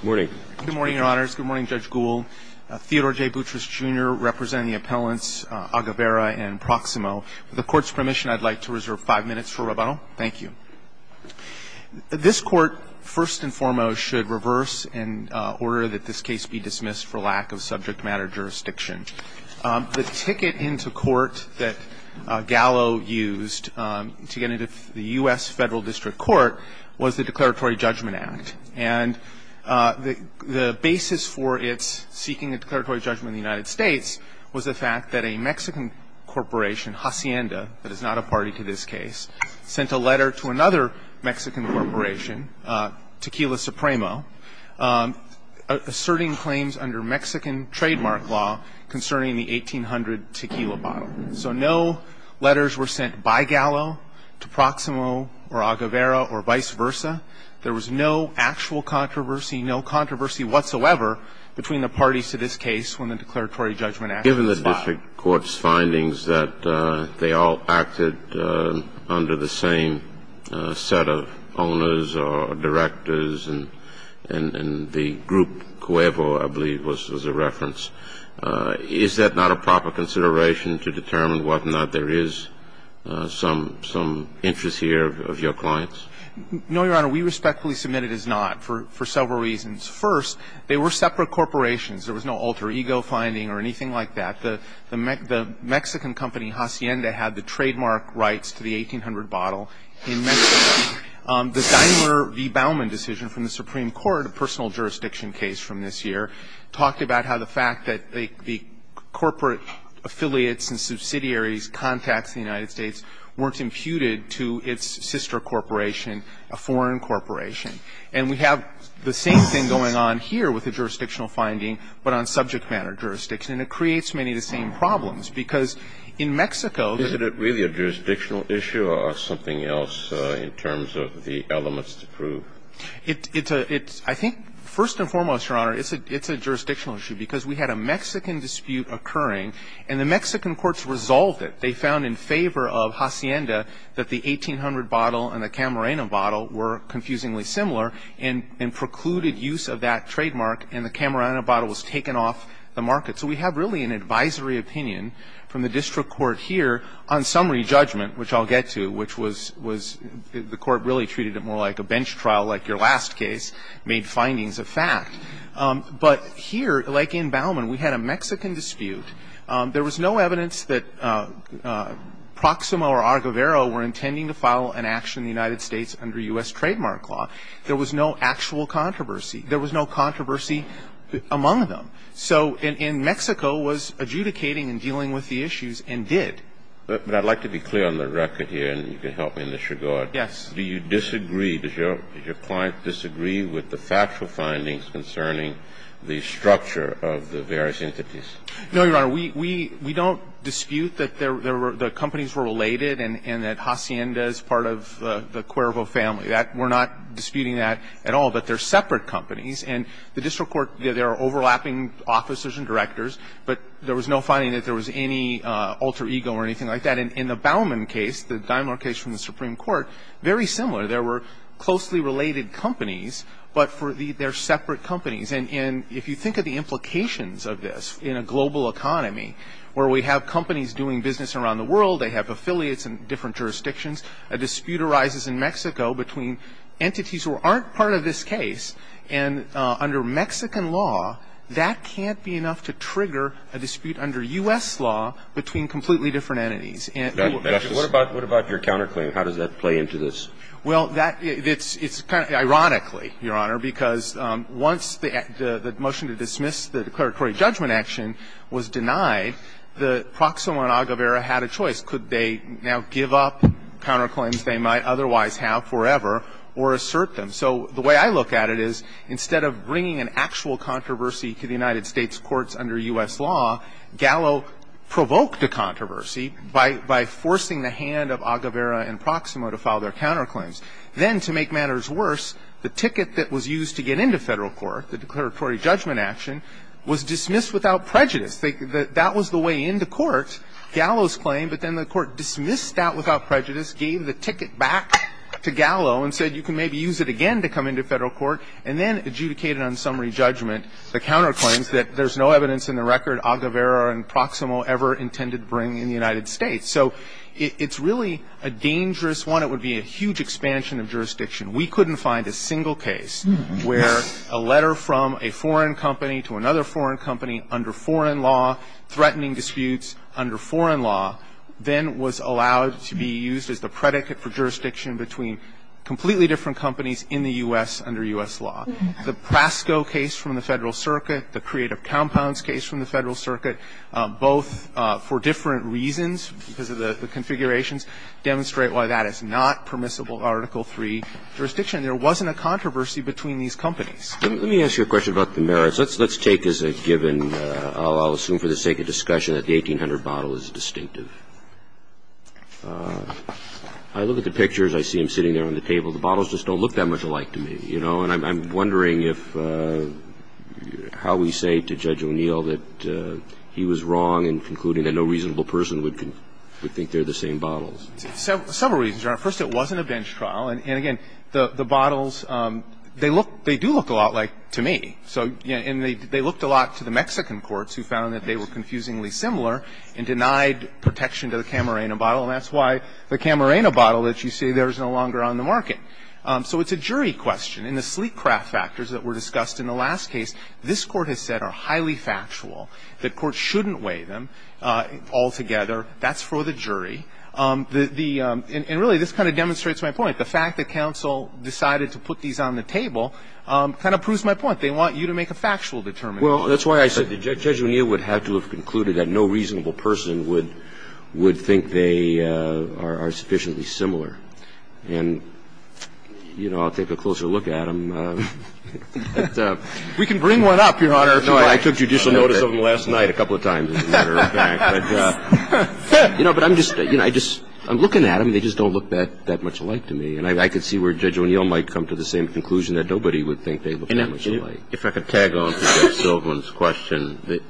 Good morning. Good morning, Your Honors. Good morning, Judge Gould. Theodore J. Boutrous, Jr. representing the appellants Aguilera and Proximo. With the Court's permission, I'd like to reserve five minutes for rebuttal. Thank you. This Court, first and foremost, should reverse and order that this case be dismissed for lack of subject matter jurisdiction. The ticket into court that Gallo used to get into the U.S. Federal District Court was the Declaratory Judgment Act. And the basis for its seeking a declaratory judgment in the United States was the fact that a Mexican corporation, Hacienda, that is not a party to this case, sent a letter to another Mexican corporation, Tequila Supremo, asserting claims under Mexican trademark law concerning the 1800 tequila bottle. So no letters were sent by Gallo to Proximo or Aguilera or vice versa. There was no actual controversy, no controversy whatsoever between the parties to this case when the Declaratory Judgment Act was filed. Given the district court's findings that they all acted under the same set of owners or directors, and the group CUEVO, I believe, was a reference, is that not a proper consideration to determine whether or not there is some interest here of your clients? No, Your Honor. We respectfully submit it as not for several reasons. First, they were separate corporations. There was no alter ego finding or anything like that. The Mexican company, Hacienda, had the trademark rights to the 1800 bottle in Mexico. The Daimler v. Baumann decision from the Supreme Court, a personal jurisdiction case from this year, talked about how the fact that the corporate affiliates and subsidiaries' contacts in the United States weren't imputed to its sister corporation, a foreign corporation. And we have the same thing going on here with the jurisdictional finding, but on subject matter jurisdiction. And it creates many of the same problems, because in Mexico the ---- Isn't it really a jurisdictional issue or something else in terms of the elements to prove? It's a ---- I think, first and foremost, Your Honor, it's a jurisdictional issue, because we had a Mexican dispute occurring, and the Mexican courts resolved it. They found in favor of Hacienda that the 1800 bottle and the Camarena bottle were confusingly similar, and precluded use of that trademark, and the Camarena bottle was taken off the market. So we have really an advisory opinion from the district court here on summary judgment, which I'll get to, which was the court really treated it more like a bench trial, like your last case, made findings of fact. But here, like in Baumann, we had a Mexican dispute. There was no evidence that Proxima or Aguilera were intending to file an action in the United States under U.S. trademark law. There was no actual controversy. There was no controversy among them. So in Mexico was adjudicating and dealing with the issues, and did. But I'd like to be clear on the record here, and you can help me in this regard. Yes. Do you disagree? Does your client disagree with the factual findings concerning the structure of the various entities? No, Your Honor. We don't dispute that the companies were related and that Hacienda is part of the Cuervo family. We're not disputing that at all, but they're separate companies. And the district court, there are overlapping officers and directors, but there was no finding that there was any alter ego or anything like that. In the Baumann case, the Daimler case from the Supreme Court, very similar. There were closely related companies, but they're separate companies. And if you think of the implications of this in a global economy, where we have companies doing business around the world, they have affiliates in different jurisdictions, a dispute arises in Mexico between entities who aren't part of this case. And under Mexican law, that can't be enough to trigger a dispute under U.S. law between completely different entities. What about your counterclaim? How does that play into this? Well, it's kind of ironically, Your Honor, because once the motion to dismiss the declaratory judgment action was denied, Proximo and Aguilera had a choice. Could they now give up counterclaims they might otherwise have forever or assert them? So the way I look at it is, instead of bringing an actual controversy to the United States courts under U.S. law, Gallo provoked a controversy by forcing the hand of Aguilera and Proximo to file their counterclaims. Then, to make matters worse, the ticket that was used to get into Federal Court, the declaratory judgment action, was dismissed without prejudice. That was the way into court, Gallo's claim, but then the court dismissed that without prejudice, gave the ticket back to Gallo and said, you can maybe use it again to come into Federal Court, and then adjudicated on summary judgment the counterclaims that there's no evidence in the record Aguilera and Proximo ever intended to bring in the United States. So it's really a dangerous one. It would be a huge expansion of jurisdiction. We couldn't find a single case where a letter from a foreign company to another foreign company under foreign law, threatening disputes under foreign law, then was allowed to be used as the predicate for jurisdiction between completely different companies in the U.S. under U.S. law. The Prasco case from the Federal Circuit, the Creative Compounds case from the Federal Circuit, the Prasco case, the Prasco case, the Prasco case, the Prasco case, the And so the Court, because of the configurations, demonstrate why that is not permissible Article III jurisdiction. There wasn't a controversy between these companies. Roberts. Let me ask you a question about the merits. Let's take as a given, I'll assume for the sake of discussion, that the 1800 bottle is distinctive. I look at the pictures, I see him sitting there on the table, the bottles just don't look that much alike to me, you know. And I'm wondering if how we say to Judge O'Neill that he was wrong in concluding that no reasonable person would think they're the same bottles. Several reasons, Your Honor. First, it wasn't a bench trial. And again, the bottles, they look they do look a lot like to me. So and they looked a lot to the Mexican courts who found that they were confusingly similar and denied protection to the Camarena bottle. And that's why the Camarena bottle that you see there is no longer on the market. So it's a jury question. In the sleek craft factors that were discussed in the last case, this Court has said are highly factual. The Court shouldn't weigh them altogether. That's for the jury. The and really this kind of demonstrates my point. The fact that counsel decided to put these on the table kind of proves my point. They want you to make a factual determination. Well, that's why I said that Judge O'Neill would have to have concluded that no reasonable person would think they are sufficiently similar. And, you know, I'll take a closer look at them. We can bring one up, Your Honor, if you like. No, I took judicial notice of them last night a couple of times, as a matter of fact. But, you know, I'm just looking at them. They just don't look that much alike to me. And I can see where Judge O'Neill might come to the same conclusion that nobody would think they look that much alike. If I could tag on to Judge Silverman's question.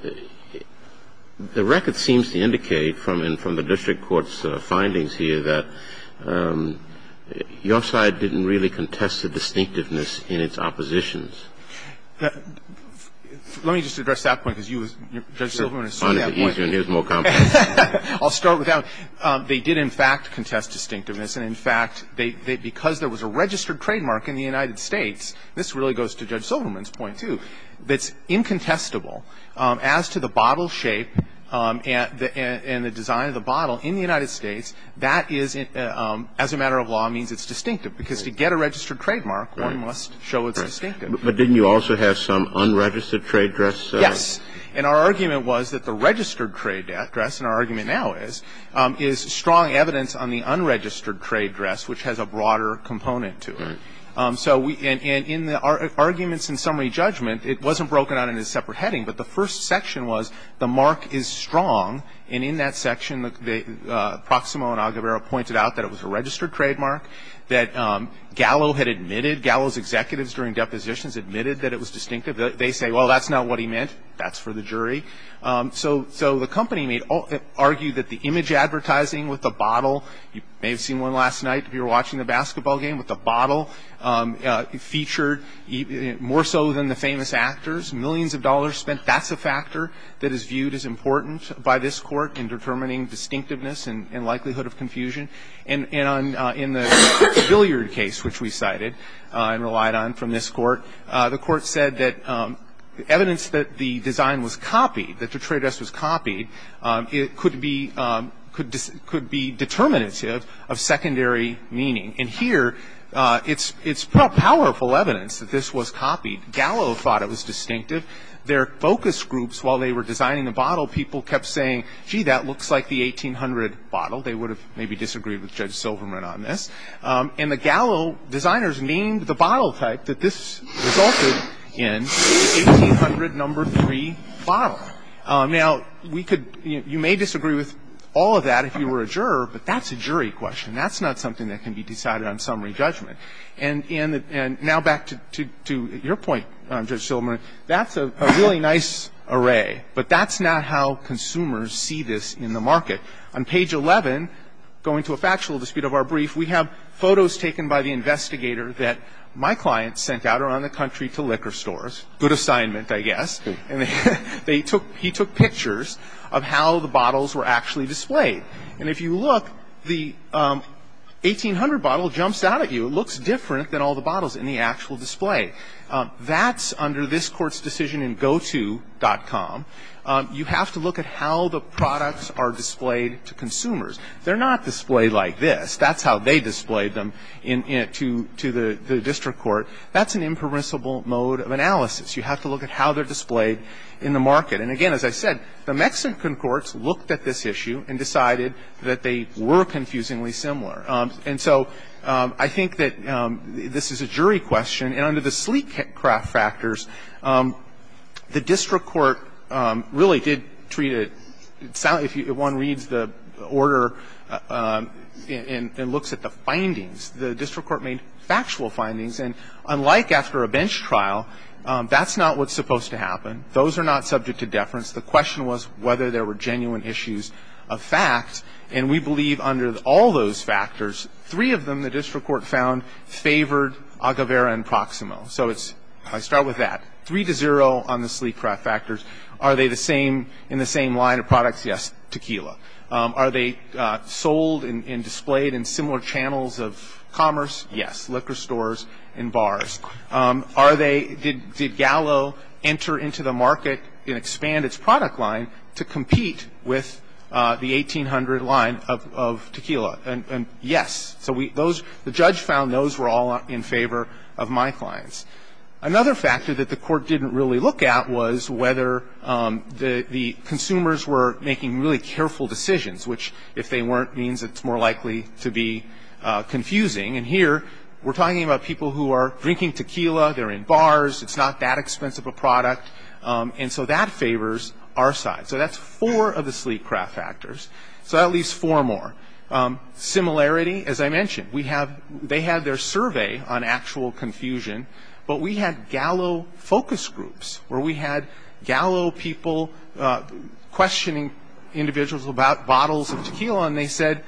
The record seems to indicate from the district court's findings here that your side didn't really contest the distinctiveness in its oppositions. Let me just address that point, because you, Judge Silverman, asserted that point. I'll start with that one. They did, in fact, contest distinctiveness. And, in fact, because there was a registered trademark in the United States, this really goes to Judge Silverman's point, too, that's incontestable. As to the bottle shape and the design of the bottle in the United States, that is, as a matter of law, means it's distinctive. Because to get a registered trademark, one must show its distinctive. But didn't you also have some unregistered trade dress? Yes. And our argument was that the registered trade dress, and our argument now is, is strong evidence on the unregistered trade dress, which has a broader component to it. And in the arguments in summary judgment, it wasn't broken out in a separate heading, but the first section was the mark is strong. And in that section, Proximo and Aguilera pointed out that it was a registered trademark, that Gallo had admitted, Gallo's executives during depositions admitted that it was distinctive. They say, well, that's not what he meant. That's for the jury. So the company argued that the image advertising with the bottle, you may have seen one last night if you were watching the basketball game with the bottle, featured more so than the famous actors, millions of dollars spent. That's a factor that is viewed as important by this Court in determining distinctiveness and likelihood of confusion. And in the billiard case, which we cited and relied on from this Court, the Court said that evidence that the design was copied, that the trade dress was copied, it could be determinative of secondary meaning. And here, it's powerful evidence that this was copied. Gallo thought it was distinctive. Their focus groups, while they were designing the bottle, people kept saying, gee, that looks like the 1800 bottle. They would have maybe disagreed with Judge Silverman on this. And the Gallo designers named the bottle type that this resulted in, 1800 number 3 bottle. Now, you may disagree with all of that if you were a juror, but that's a jury question. That's not something that can be decided on summary judgment. And now back to your point, Judge Silverman, that's a really nice array, but that's not how consumers see this in the market. On page 11, going to a factual dispute of our brief, we have photos taken by the investigator that my client sent out around the country to liquor stores. Good assignment, I guess. He took pictures of how the bottles were actually displayed. And if you look, the 1800 bottle jumps out at you. It looks different than all the bottles in the actual display. That's under this Court's decision in goto.com. You have to look at how the products are displayed to consumers. They're not displayed like this. That's how they displayed them to the district court. That's an impermissible mode of analysis. You have to look at how they're displayed in the market. And, again, as I said, the Mexican courts looked at this issue and decided that they were confusingly similar. And so I think that this is a jury question. And under the sleek craft factors, the district court really did treat it, if one reads the order and looks at the findings, the district court made factual findings. And unlike after a bench trial, that's not what's supposed to happen. Those are not subject to deference. The question was whether there were genuine issues of fact. And we believe under all those factors, three of them the district court found favored Aguevera and Proximo. So I start with that. Three to zero on the sleek craft factors. Are they in the same line of products? Yes. Tequila. Are they sold and displayed in similar channels of commerce? Yes. Liquor stores and bars. Are they, did Gallo enter into the market and expand its product line to compete with the 1800 line of tequila? And yes. So those, the judge found those were all in favor of my clients. Another factor that the court didn't really look at was whether the consumers were making really careful decisions, which if they weren't means it's more likely to be confusing. And here we're talking about people who are drinking tequila. They're in bars. It's not that expensive a product. And so that favors our side. So that's four of the sleek craft factors. So that leaves four more. Similarity, as I mentioned, we have, they had their survey on actual confusion. But we had Gallo focus groups where we had Gallo people questioning individuals about bottles of tequila. And they said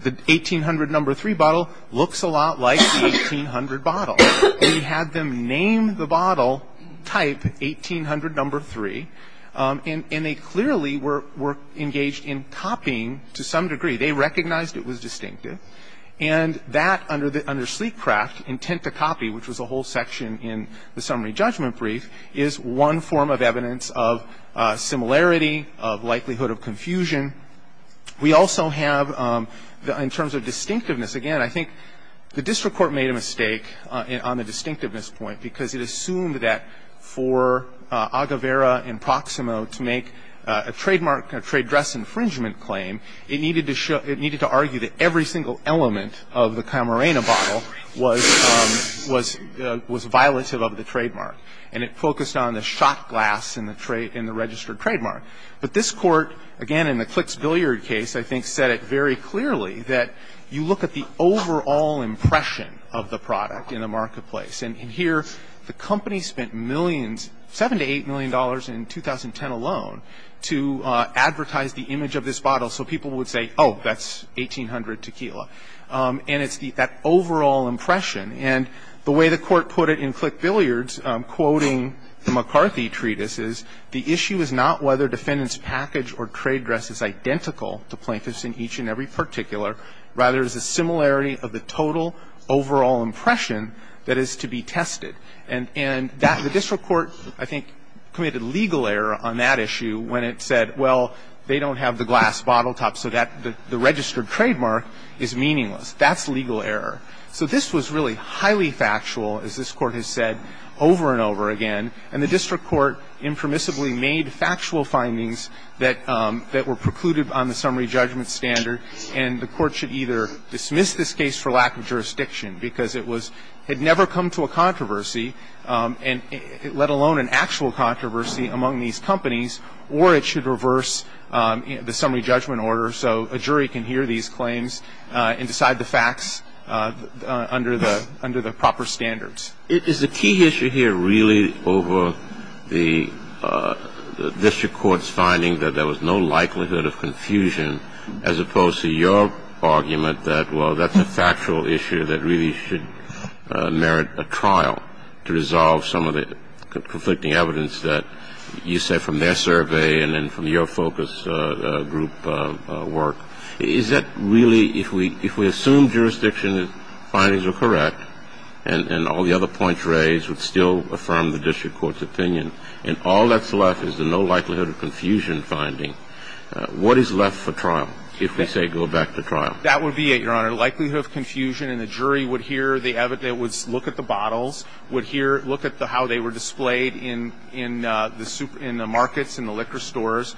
the 1800 number three bottle looks a lot like the 1800 bottle. We had them name the bottle type 1800 number three. And they clearly were engaged in copying to some degree. They recognized it was distinctive. And that under sleek craft, intent to copy, which was a whole section in the summary judgment brief, is one form of evidence of similarity, of likelihood of confusion. We also have, in terms of distinctiveness, again, I think the district court made a mistake on the distinctiveness point because it assumed that for Aguevera and Proximo to make a trademark, a trade dress infringement claim, it needed to show, it needed to argue that every single element of the Camarena bottle was, was violative of the trademark. And it focused on the shot glass in the registered trademark. But this Court, again, in the Clicks Billiard case, I think said it very clearly that you look at the overall impression of the product in the marketplace. And here the company spent millions, $7 to $8 million in 2010 alone, to advertise the image of this bottle so people would say, oh, that's 1800 tequila. And it's that overall impression. And the way the Court put it in Click Billiards, quoting the McCarthy treatises, the issue is not whether defendant's package or trade dress is identical to plaintiff's in each and every particular, rather it's the similarity of the total overall impression that is to be tested. And that, the district court, I think, committed legal error on that issue when it said, well, they don't have the glass bottle top, so that the registered trademark is meaningless. That's legal error. So this was really highly factual, as this Court has said over and over again. And the district court impermissibly made factual findings that were precluded on the summary judgment standard. And the Court should either dismiss this case for lack of jurisdiction, because it was, had never come to a controversy, let alone an actual controversy among these companies, or it should reverse the summary judgment order so a jury can hear these claims and decide the facts under the proper standards. Is the key issue here really over the district court's finding that there was no likelihood of confusion, as opposed to your argument that, well, that's a factual issue that really should merit a trial to resolve some of the conflicting evidence that you say from their survey and then from your focus group work? Is that really, if we assume jurisdiction findings are correct, and all the other points raised would still affirm the district court's opinion, and all that's left is the no likelihood of confusion finding, what is left for trial, if we say go back to trial? That would be it, Your Honor. Likelihood of confusion, and the jury would hear the evidence, look at the bottles, would hear, look at how they were displayed in the super, in the markets, in the liquor stores,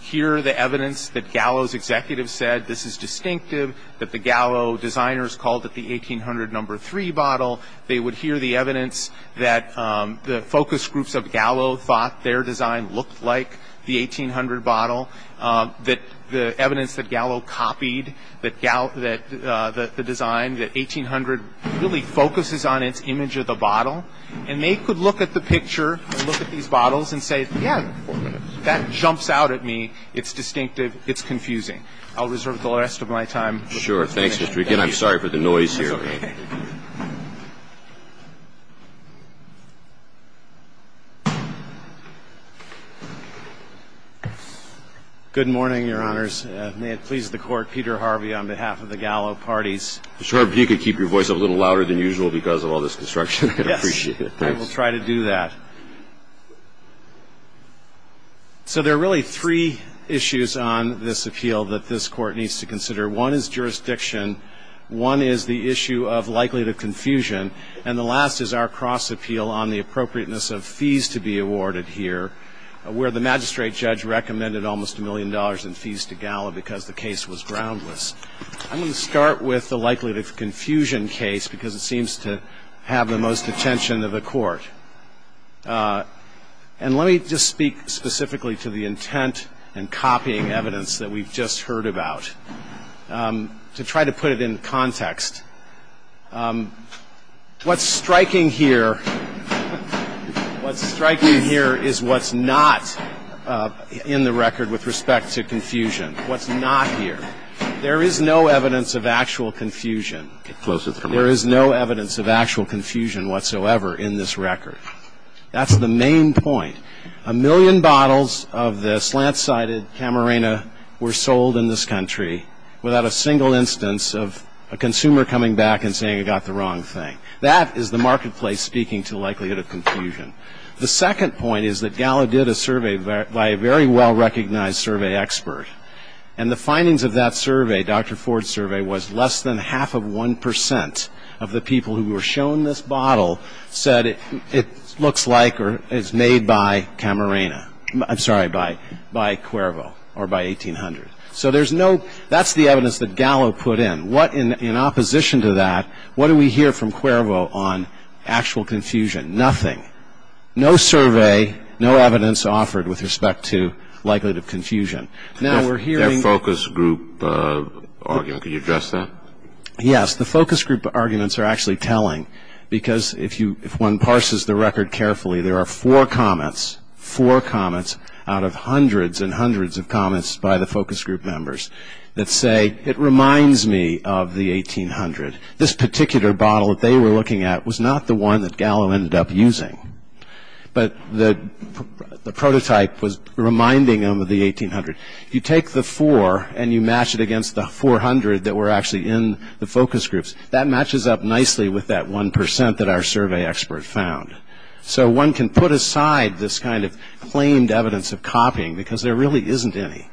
hear the evidence that Gallo's executives said, this is distinctive, that the Gallo designers called it the 1800 number three bottle. They would hear the evidence that the focus groups of Gallo thought their design looked like the 1800 bottle, that the evidence that Gallo copied, that the design, that 1800 really focuses on its image of the bottle, and they could look at the picture and look at these bottles and say, yeah, that jumps out at me, it's distinctive, it's confusing. I'll reserve the rest of my time. Sure. Thanks, Mr. McGinn. I'm sorry for the noise here. It's okay. Good morning, Your Honors. May it please the Court, Peter Harvey on behalf of the Gallo parties. Mr. Harvey, if you could keep your voice up a little louder than usual because of all this construction, I'd appreciate it. Yes. I will try to do that. So there are really three issues on this appeal that this Court needs to consider. One is jurisdiction. One is the issue of likelihood of confusion. And the last is our cross appeal on the appropriateness of fees to be awarded here, where the magistrate judge recommended almost a million dollars in fees to Gallo because the case was groundless. I'm going to start with the likelihood of confusion case because it seems to have the most attention of the Court. And let me just speak specifically to the intent and copying evidence that we've just heard about to try to put it in context. What's striking here is what's not in the record with respect to confusion, what's not here. There is no evidence of actual confusion. There is no evidence of actual confusion whatsoever in this record. That's the main point. A million bottles of the slant-sided Camarena were sold in this country without a single instance of a consumer coming back and saying he got the wrong thing. That is the marketplace speaking to likelihood of confusion. The second point is that Gallo did a survey by a very well-recognized survey expert. And the findings of that survey, Dr. Ford's survey, was less than half of 1% of the people who were shown this bottle said it looks like or is made by Camarena. I'm sorry, by Cuervo or by 1800. So there's no ‑‑ that's the evidence that Gallo put in. In opposition to that, what do we hear from Cuervo on actual confusion? Nothing. No survey, no evidence offered with respect to likelihood of confusion. Their focus group argument, can you address that? Yes. The focus group arguments are actually telling because if one parses the record carefully, there are four comments, four comments out of hundreds and hundreds of comments by the focus group members that say it reminds me of the 1800. This particular bottle that they were looking at was not the one that Gallo ended up using. But the prototype was reminding them of the 1800. You take the four and you match it against the 400 that were actually in the focus groups. That matches up nicely with that 1% that our survey expert found. So one can put aside this kind of claimed evidence of copying because there really isn't any.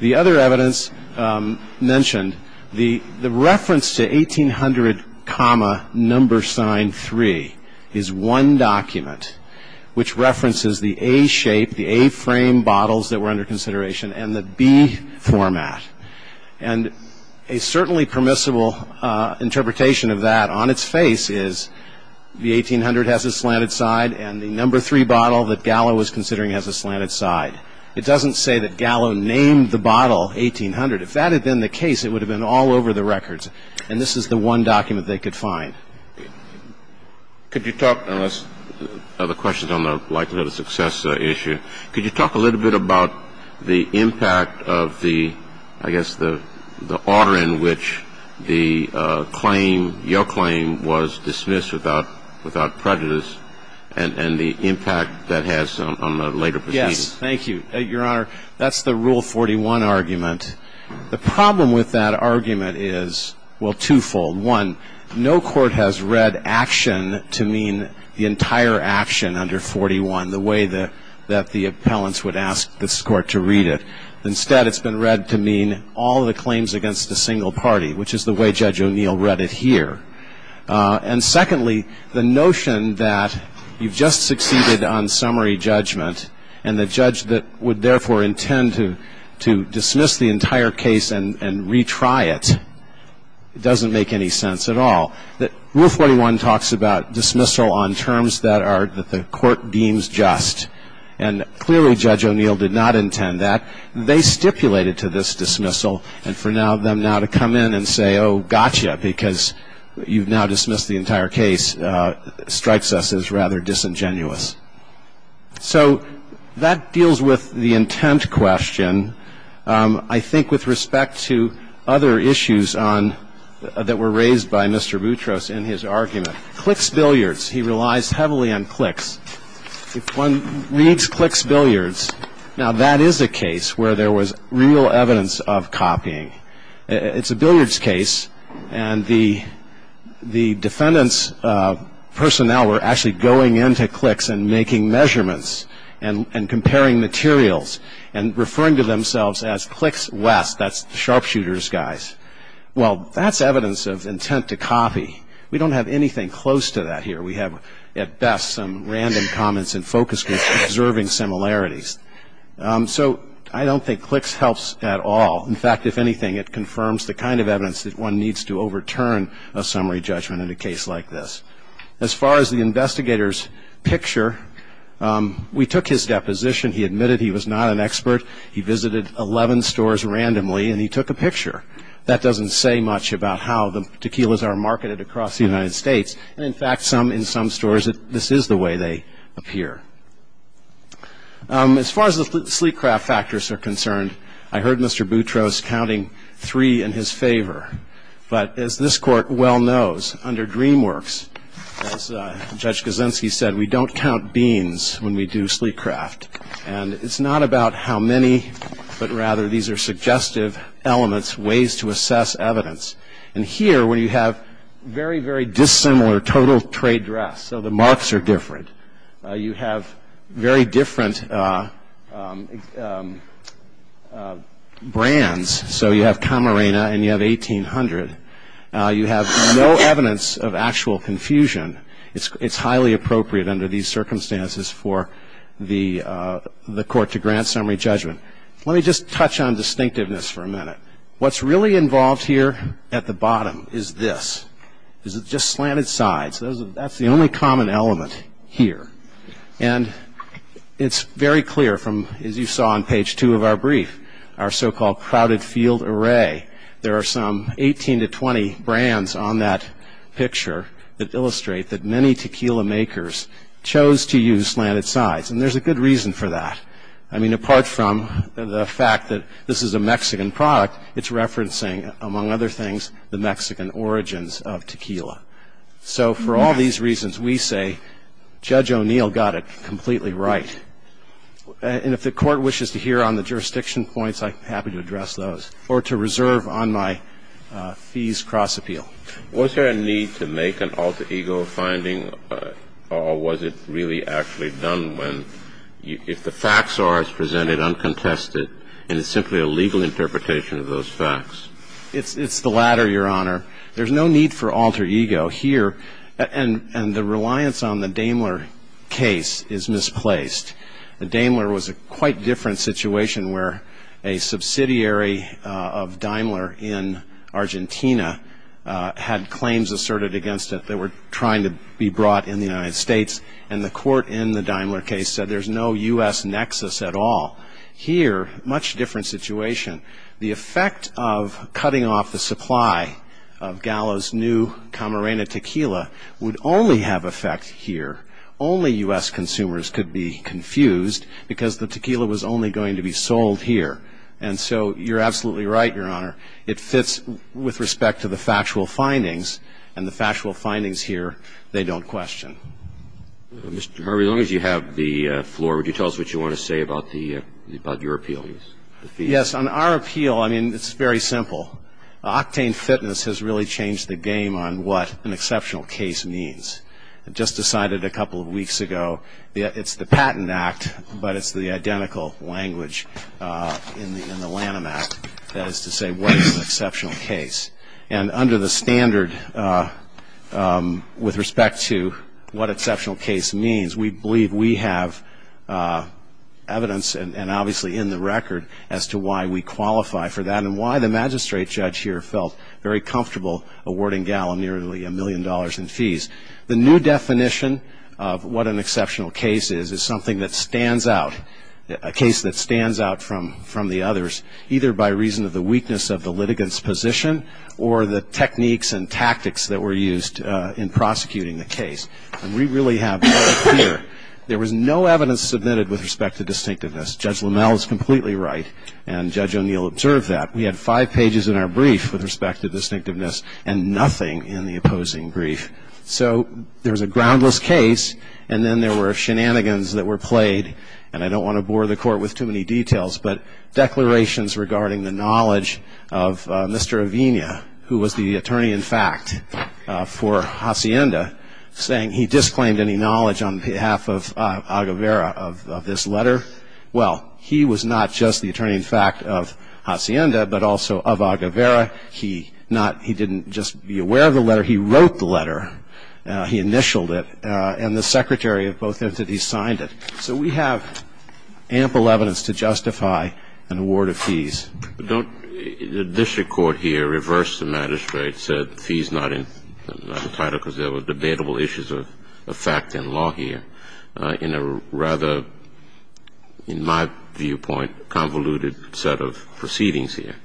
The other evidence mentioned, the reference to 1800 comma number sign three is one document which references the A shape, the A frame bottles that were under consideration and the B format. And a certainly permissible interpretation of that on its face is the 1800 has a slanted side and the number three bottle that Gallo was considering has a slanted side. It doesn't say that Gallo named the bottle 1800. If that had been the case, it would have been all over the records. And this is the one document they could find. Could you talk, unless other questions on the likelihood of success issue, could you talk a little bit about the impact of the, I guess, the order in which the claim, your claim was dismissed without prejudice and the impact that has on the later proceedings? Thank you. Your Honor, that's the Rule 41 argument. The problem with that argument is, well, twofold. One, no court has read action to mean the entire action under 41, the way that the appellants would ask this court to read it. Instead, it's been read to mean all the claims against a single party, which is the way Judge O'Neill read it here. And secondly, the notion that you've just succeeded on summary judgment and the judge would therefore intend to dismiss the entire case and retry it, it doesn't make any sense at all. Rule 41 talks about dismissal on terms that the court deems just, and clearly Judge O'Neill did not intend that. They stipulated to this dismissal and for them now to come in and say, oh, gotcha, because you've now dismissed the entire case, strikes us as rather disingenuous. So that deals with the intent question, I think, with respect to other issues that were raised by Mr. Boutros in his argument. Clicks billiards, he relies heavily on clicks. If one reads clicks billiards, now that is a case where there was real evidence of copying. It's a billiards case, and the defendant's personnel were actually going into clicks and making measurements and comparing materials and referring to themselves as clicks west, that's the sharpshooters guys. Well, that's evidence of intent to copy. We don't have anything close to that here. We have, at best, some random comments and focus groups observing similarities. So I don't think clicks helps at all. In fact, if anything, it confirms the kind of evidence that one needs to overturn a summary judgment in a case like this. As far as the investigator's picture, we took his deposition. He admitted he was not an expert. He visited 11 stores randomly, and he took a picture. That doesn't say much about how the tequilas are marketed across the United States. And, in fact, in some stores, this is the way they appear. As far as the sleek craft factors are concerned, I heard Mr. Boutros counting three in his favor. But, as this Court well knows, under DreamWorks, as Judge Kaczynski said, we don't count beans when we do sleek craft. And it's not about how many, but rather these are suggestive elements, ways to assess evidence. And here, where you have very, very dissimilar total trade dress, so the marks are different, you have very different brands, so you have Camarena and you have 1800. You have no evidence of actual confusion. It's highly appropriate under these circumstances for the court to grant summary judgment. Let me just touch on distinctiveness for a minute. What's really involved here at the bottom is this. This is just slanted sides. That's the only common element here. And it's very clear from, as you saw on page two of our brief, our so-called crowded field array. There are some 18 to 20 brands on that picture that illustrate that many tequila makers chose to use slanted sides. And there's a good reason for that. I mean, apart from the fact that this is a Mexican product, it's referencing, among other things, the Mexican origins of tequila. So for all these reasons, we say Judge O'Neill got it completely right. And if the Court wishes to hear on the jurisdiction points, I'm happy to address those, or to reserve on my fees cross-appeal. Was there a need to make an alter ego finding, or was it really actually done when, if the facts are as presented, uncontested, and it's simply a legal interpretation of those facts? It's the latter, Your Honor. There's no need for alter ego here. And the reliance on the Daimler case is misplaced. The Daimler was a quite different situation, where a subsidiary of Daimler in Argentina had claims asserted against it that were trying to be brought in the United States. And the court in the Daimler case said there's no U.S. nexus at all. Here, much different situation. The effect of cutting off the supply of Gallo's new Camarena tequila would only have effect here. Only U.S. consumers could be confused because the tequila was only going to be sold here. And so you're absolutely right, Your Honor. It fits with respect to the factual findings, and the factual findings here, they don't question. Mr. Harvey, as long as you have the floor, would you tell us what you want to say about your appeal? Yes, on our appeal, I mean, it's very simple. Octane Fitness has really changed the game on what an exceptional case means. Just decided a couple of weeks ago, it's the Patent Act, but it's the identical language in the Lanham Act, that is to say what is an exceptional case. And under the standard with respect to what exceptional case means, we believe we have evidence and obviously in the record as to why we qualify for that and why the magistrate judge here felt very comfortable awarding Gallo nearly a million dollars in fees. The new definition of what an exceptional case is is something that stands out, a case that stands out from the others, either by reason of the weakness of the litigants' position or the techniques and tactics that were used in prosecuting the case. And we really have no fear. There was no evidence submitted with respect to distinctiveness. Judge Lamel is completely right, and Judge O'Neill observed that. We had five pages in our brief with respect to distinctiveness and nothing in the opposing brief. So there was a groundless case, and then there were shenanigans that were played, and I don't want to bore the Court with too many details, but declarations regarding the knowledge of Mr. Avena, who was the attorney in fact for Hacienda, saying he disclaimed any knowledge on behalf of Aguevera of this letter. Well, he was not just the attorney in fact of Hacienda, but also of Aguevera. He didn't just be aware of the letter. He wrote the letter. He initialed it, and the secretary of both entities signed it. But don't the district court here reverse the magistrate's fees not in the title because there were debatable issues of fact and law here in a rather, in my viewpoint, convoluted set of proceedings here.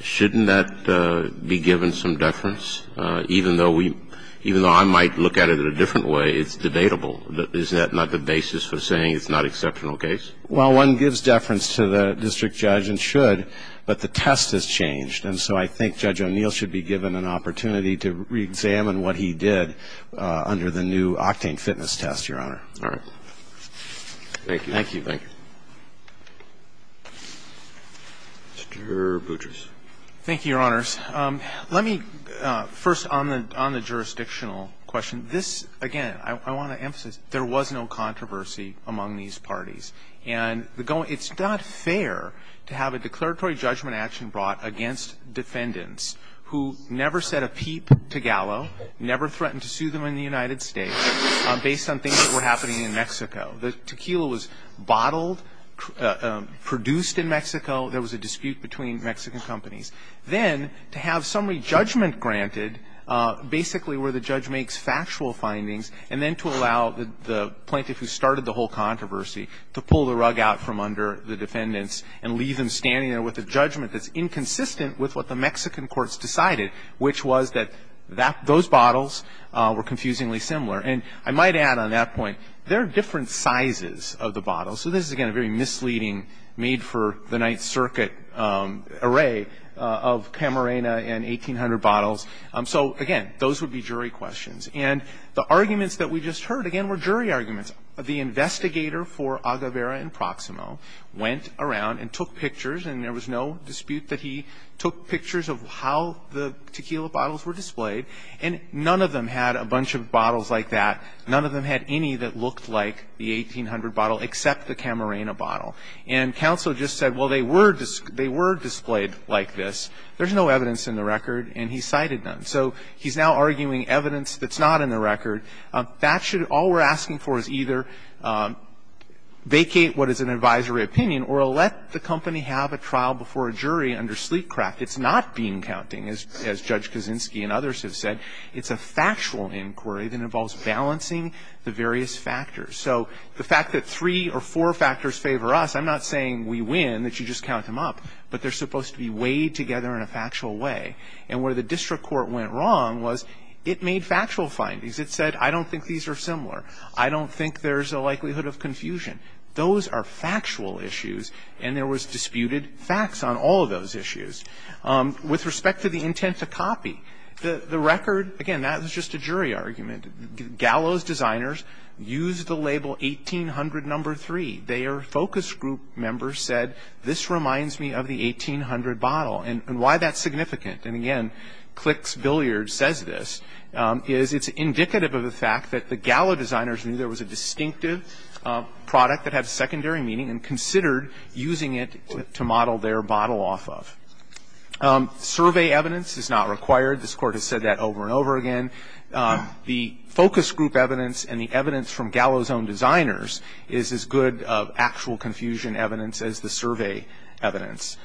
Shouldn't that be given some deference? Even though we – even though I might look at it in a different way, it's debatable. Isn't that not the basis for saying it's not an exceptional case? Well, one gives deference to the district judge and should, but the test has changed, and so I think Judge O'Neill should be given an opportunity to reexamine what he did under the new octane fitness test, Your Honor. All right. Thank you. Thank you. Thank you. Mr. Boutrous. Thank you, Your Honors. Let me first on the jurisdictional question. This, again, I want to emphasize, there was no controversy among these parties. And it's not fair to have a declaratory judgment action brought against defendants who never set a peep to Gallo, never threatened to sue them in the United States based on things that were happening in Mexico. The tequila was bottled, produced in Mexico. There was a dispute between Mexican companies. Then to have summary judgment granted basically where the judge makes factual findings, and then to allow the plaintiff who started the whole controversy to pull the rug out from under the defendants and leave them standing there with a judgment that's inconsistent with what the Mexican courts decided, which was that those bottles were confusingly similar. And I might add on that point, there are different sizes of the bottles. So this is, again, a very misleading made-for-the-Ninth-Circuit array of Camarena and 1800 bottles. So, again, those would be jury questions. And the arguments that we just heard, again, were jury arguments. The investigator for Aguevera and Proximo went around and took pictures, and there was no dispute that he took pictures of how the tequila bottles were displayed. And none of them had a bunch of bottles like that. None of them had any that looked like the 1800 bottle except the Camarena bottle. And counsel just said, well, they were displayed like this. There's no evidence in the record. And he cited none. So he's now arguing evidence that's not in the record. That should all we're asking for is either vacate what is an advisory opinion or let the company have a trial before a jury under sleepcraft. It's not bean counting, as Judge Kaczynski and others have said. It's a factual inquiry that involves balancing the various factors. So the fact that three or four factors favor us, I'm not saying we win, that you just count them up, but they're supposed to be weighed together in a factual way. And where the district court went wrong was it made factual findings. It said, I don't think these are similar. I don't think there's a likelihood of confusion. Those are factual issues, and there was disputed facts on all of those issues. With respect to the intent to copy, the record, again, that was just a jury argument. Gallo's designers used the label 1800 No. 3. Their focus group members said, this reminds me of the 1800 bottle, and why that's significant. And again, Clicks Billiards says this, is it's indicative of the fact that the Gallo designers knew there was a distinctive product that had secondary meaning and considered using it to model their bottle off of. Survey evidence is not required. This Court has said that over and over again. The focus group evidence and the evidence from Gallo's own designers is as good of actual confusion evidence as the survey evidence.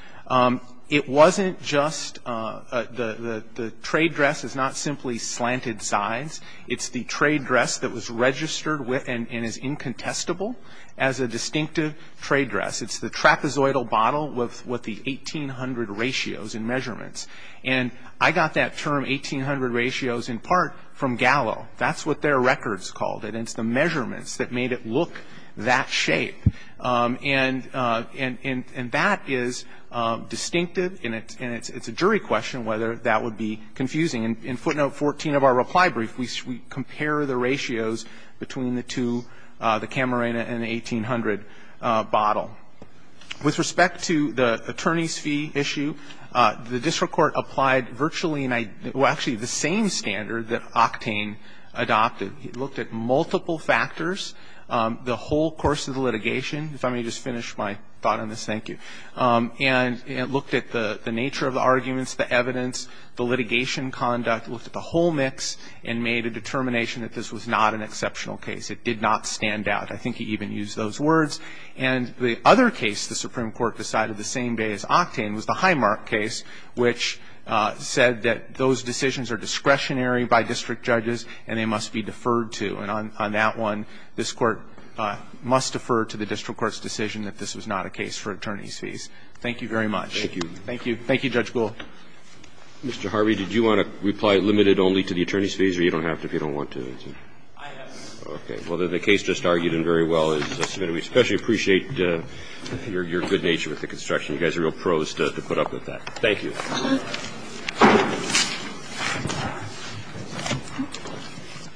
It wasn't just the trade dress is not simply slanted sides. It's the trade dress that was registered with and is incontestable as a distinctive trade dress. It's the trapezoidal bottle with the 1800 ratios and measurements. And I got that term, 1800 ratios, in part from Gallo. That's what their records called it. It's the measurements that made it look that shape. And that is distinctive, and it's a jury question whether that would be confusing. In footnote 14 of our reply brief, we compare the ratios between the two, the Camarena and the 1800 bottle. With respect to the attorney's fee issue, the district court applied virtually the same standard that Octane adopted. It looked at multiple factors the whole course of the litigation. If I may just finish my thought on this, thank you. And it looked at the nature of the arguments, the evidence, the litigation conduct. It looked at the whole mix and made a determination that this was not an exceptional case. It did not stand out. I think he even used those words. And the other case the Supreme Court decided the same day as Octane was the Highmark case, which said that those decisions are discretionary by district judges and they must be deferred to. And on that one, this Court must defer to the district court's decision that this was not a case for attorney's fees. Thank you very much. Thank you. Thank you, Judge Gould. Mr. Harvey, did you want to reply limited only to the attorney's fees, or you don't have to if you don't want to? I have to. Okay. Well, the case just argued and very well is submitted. We especially appreciate your good nature with the construction. You guys are real pros to put up with that. Thank you. Thank you.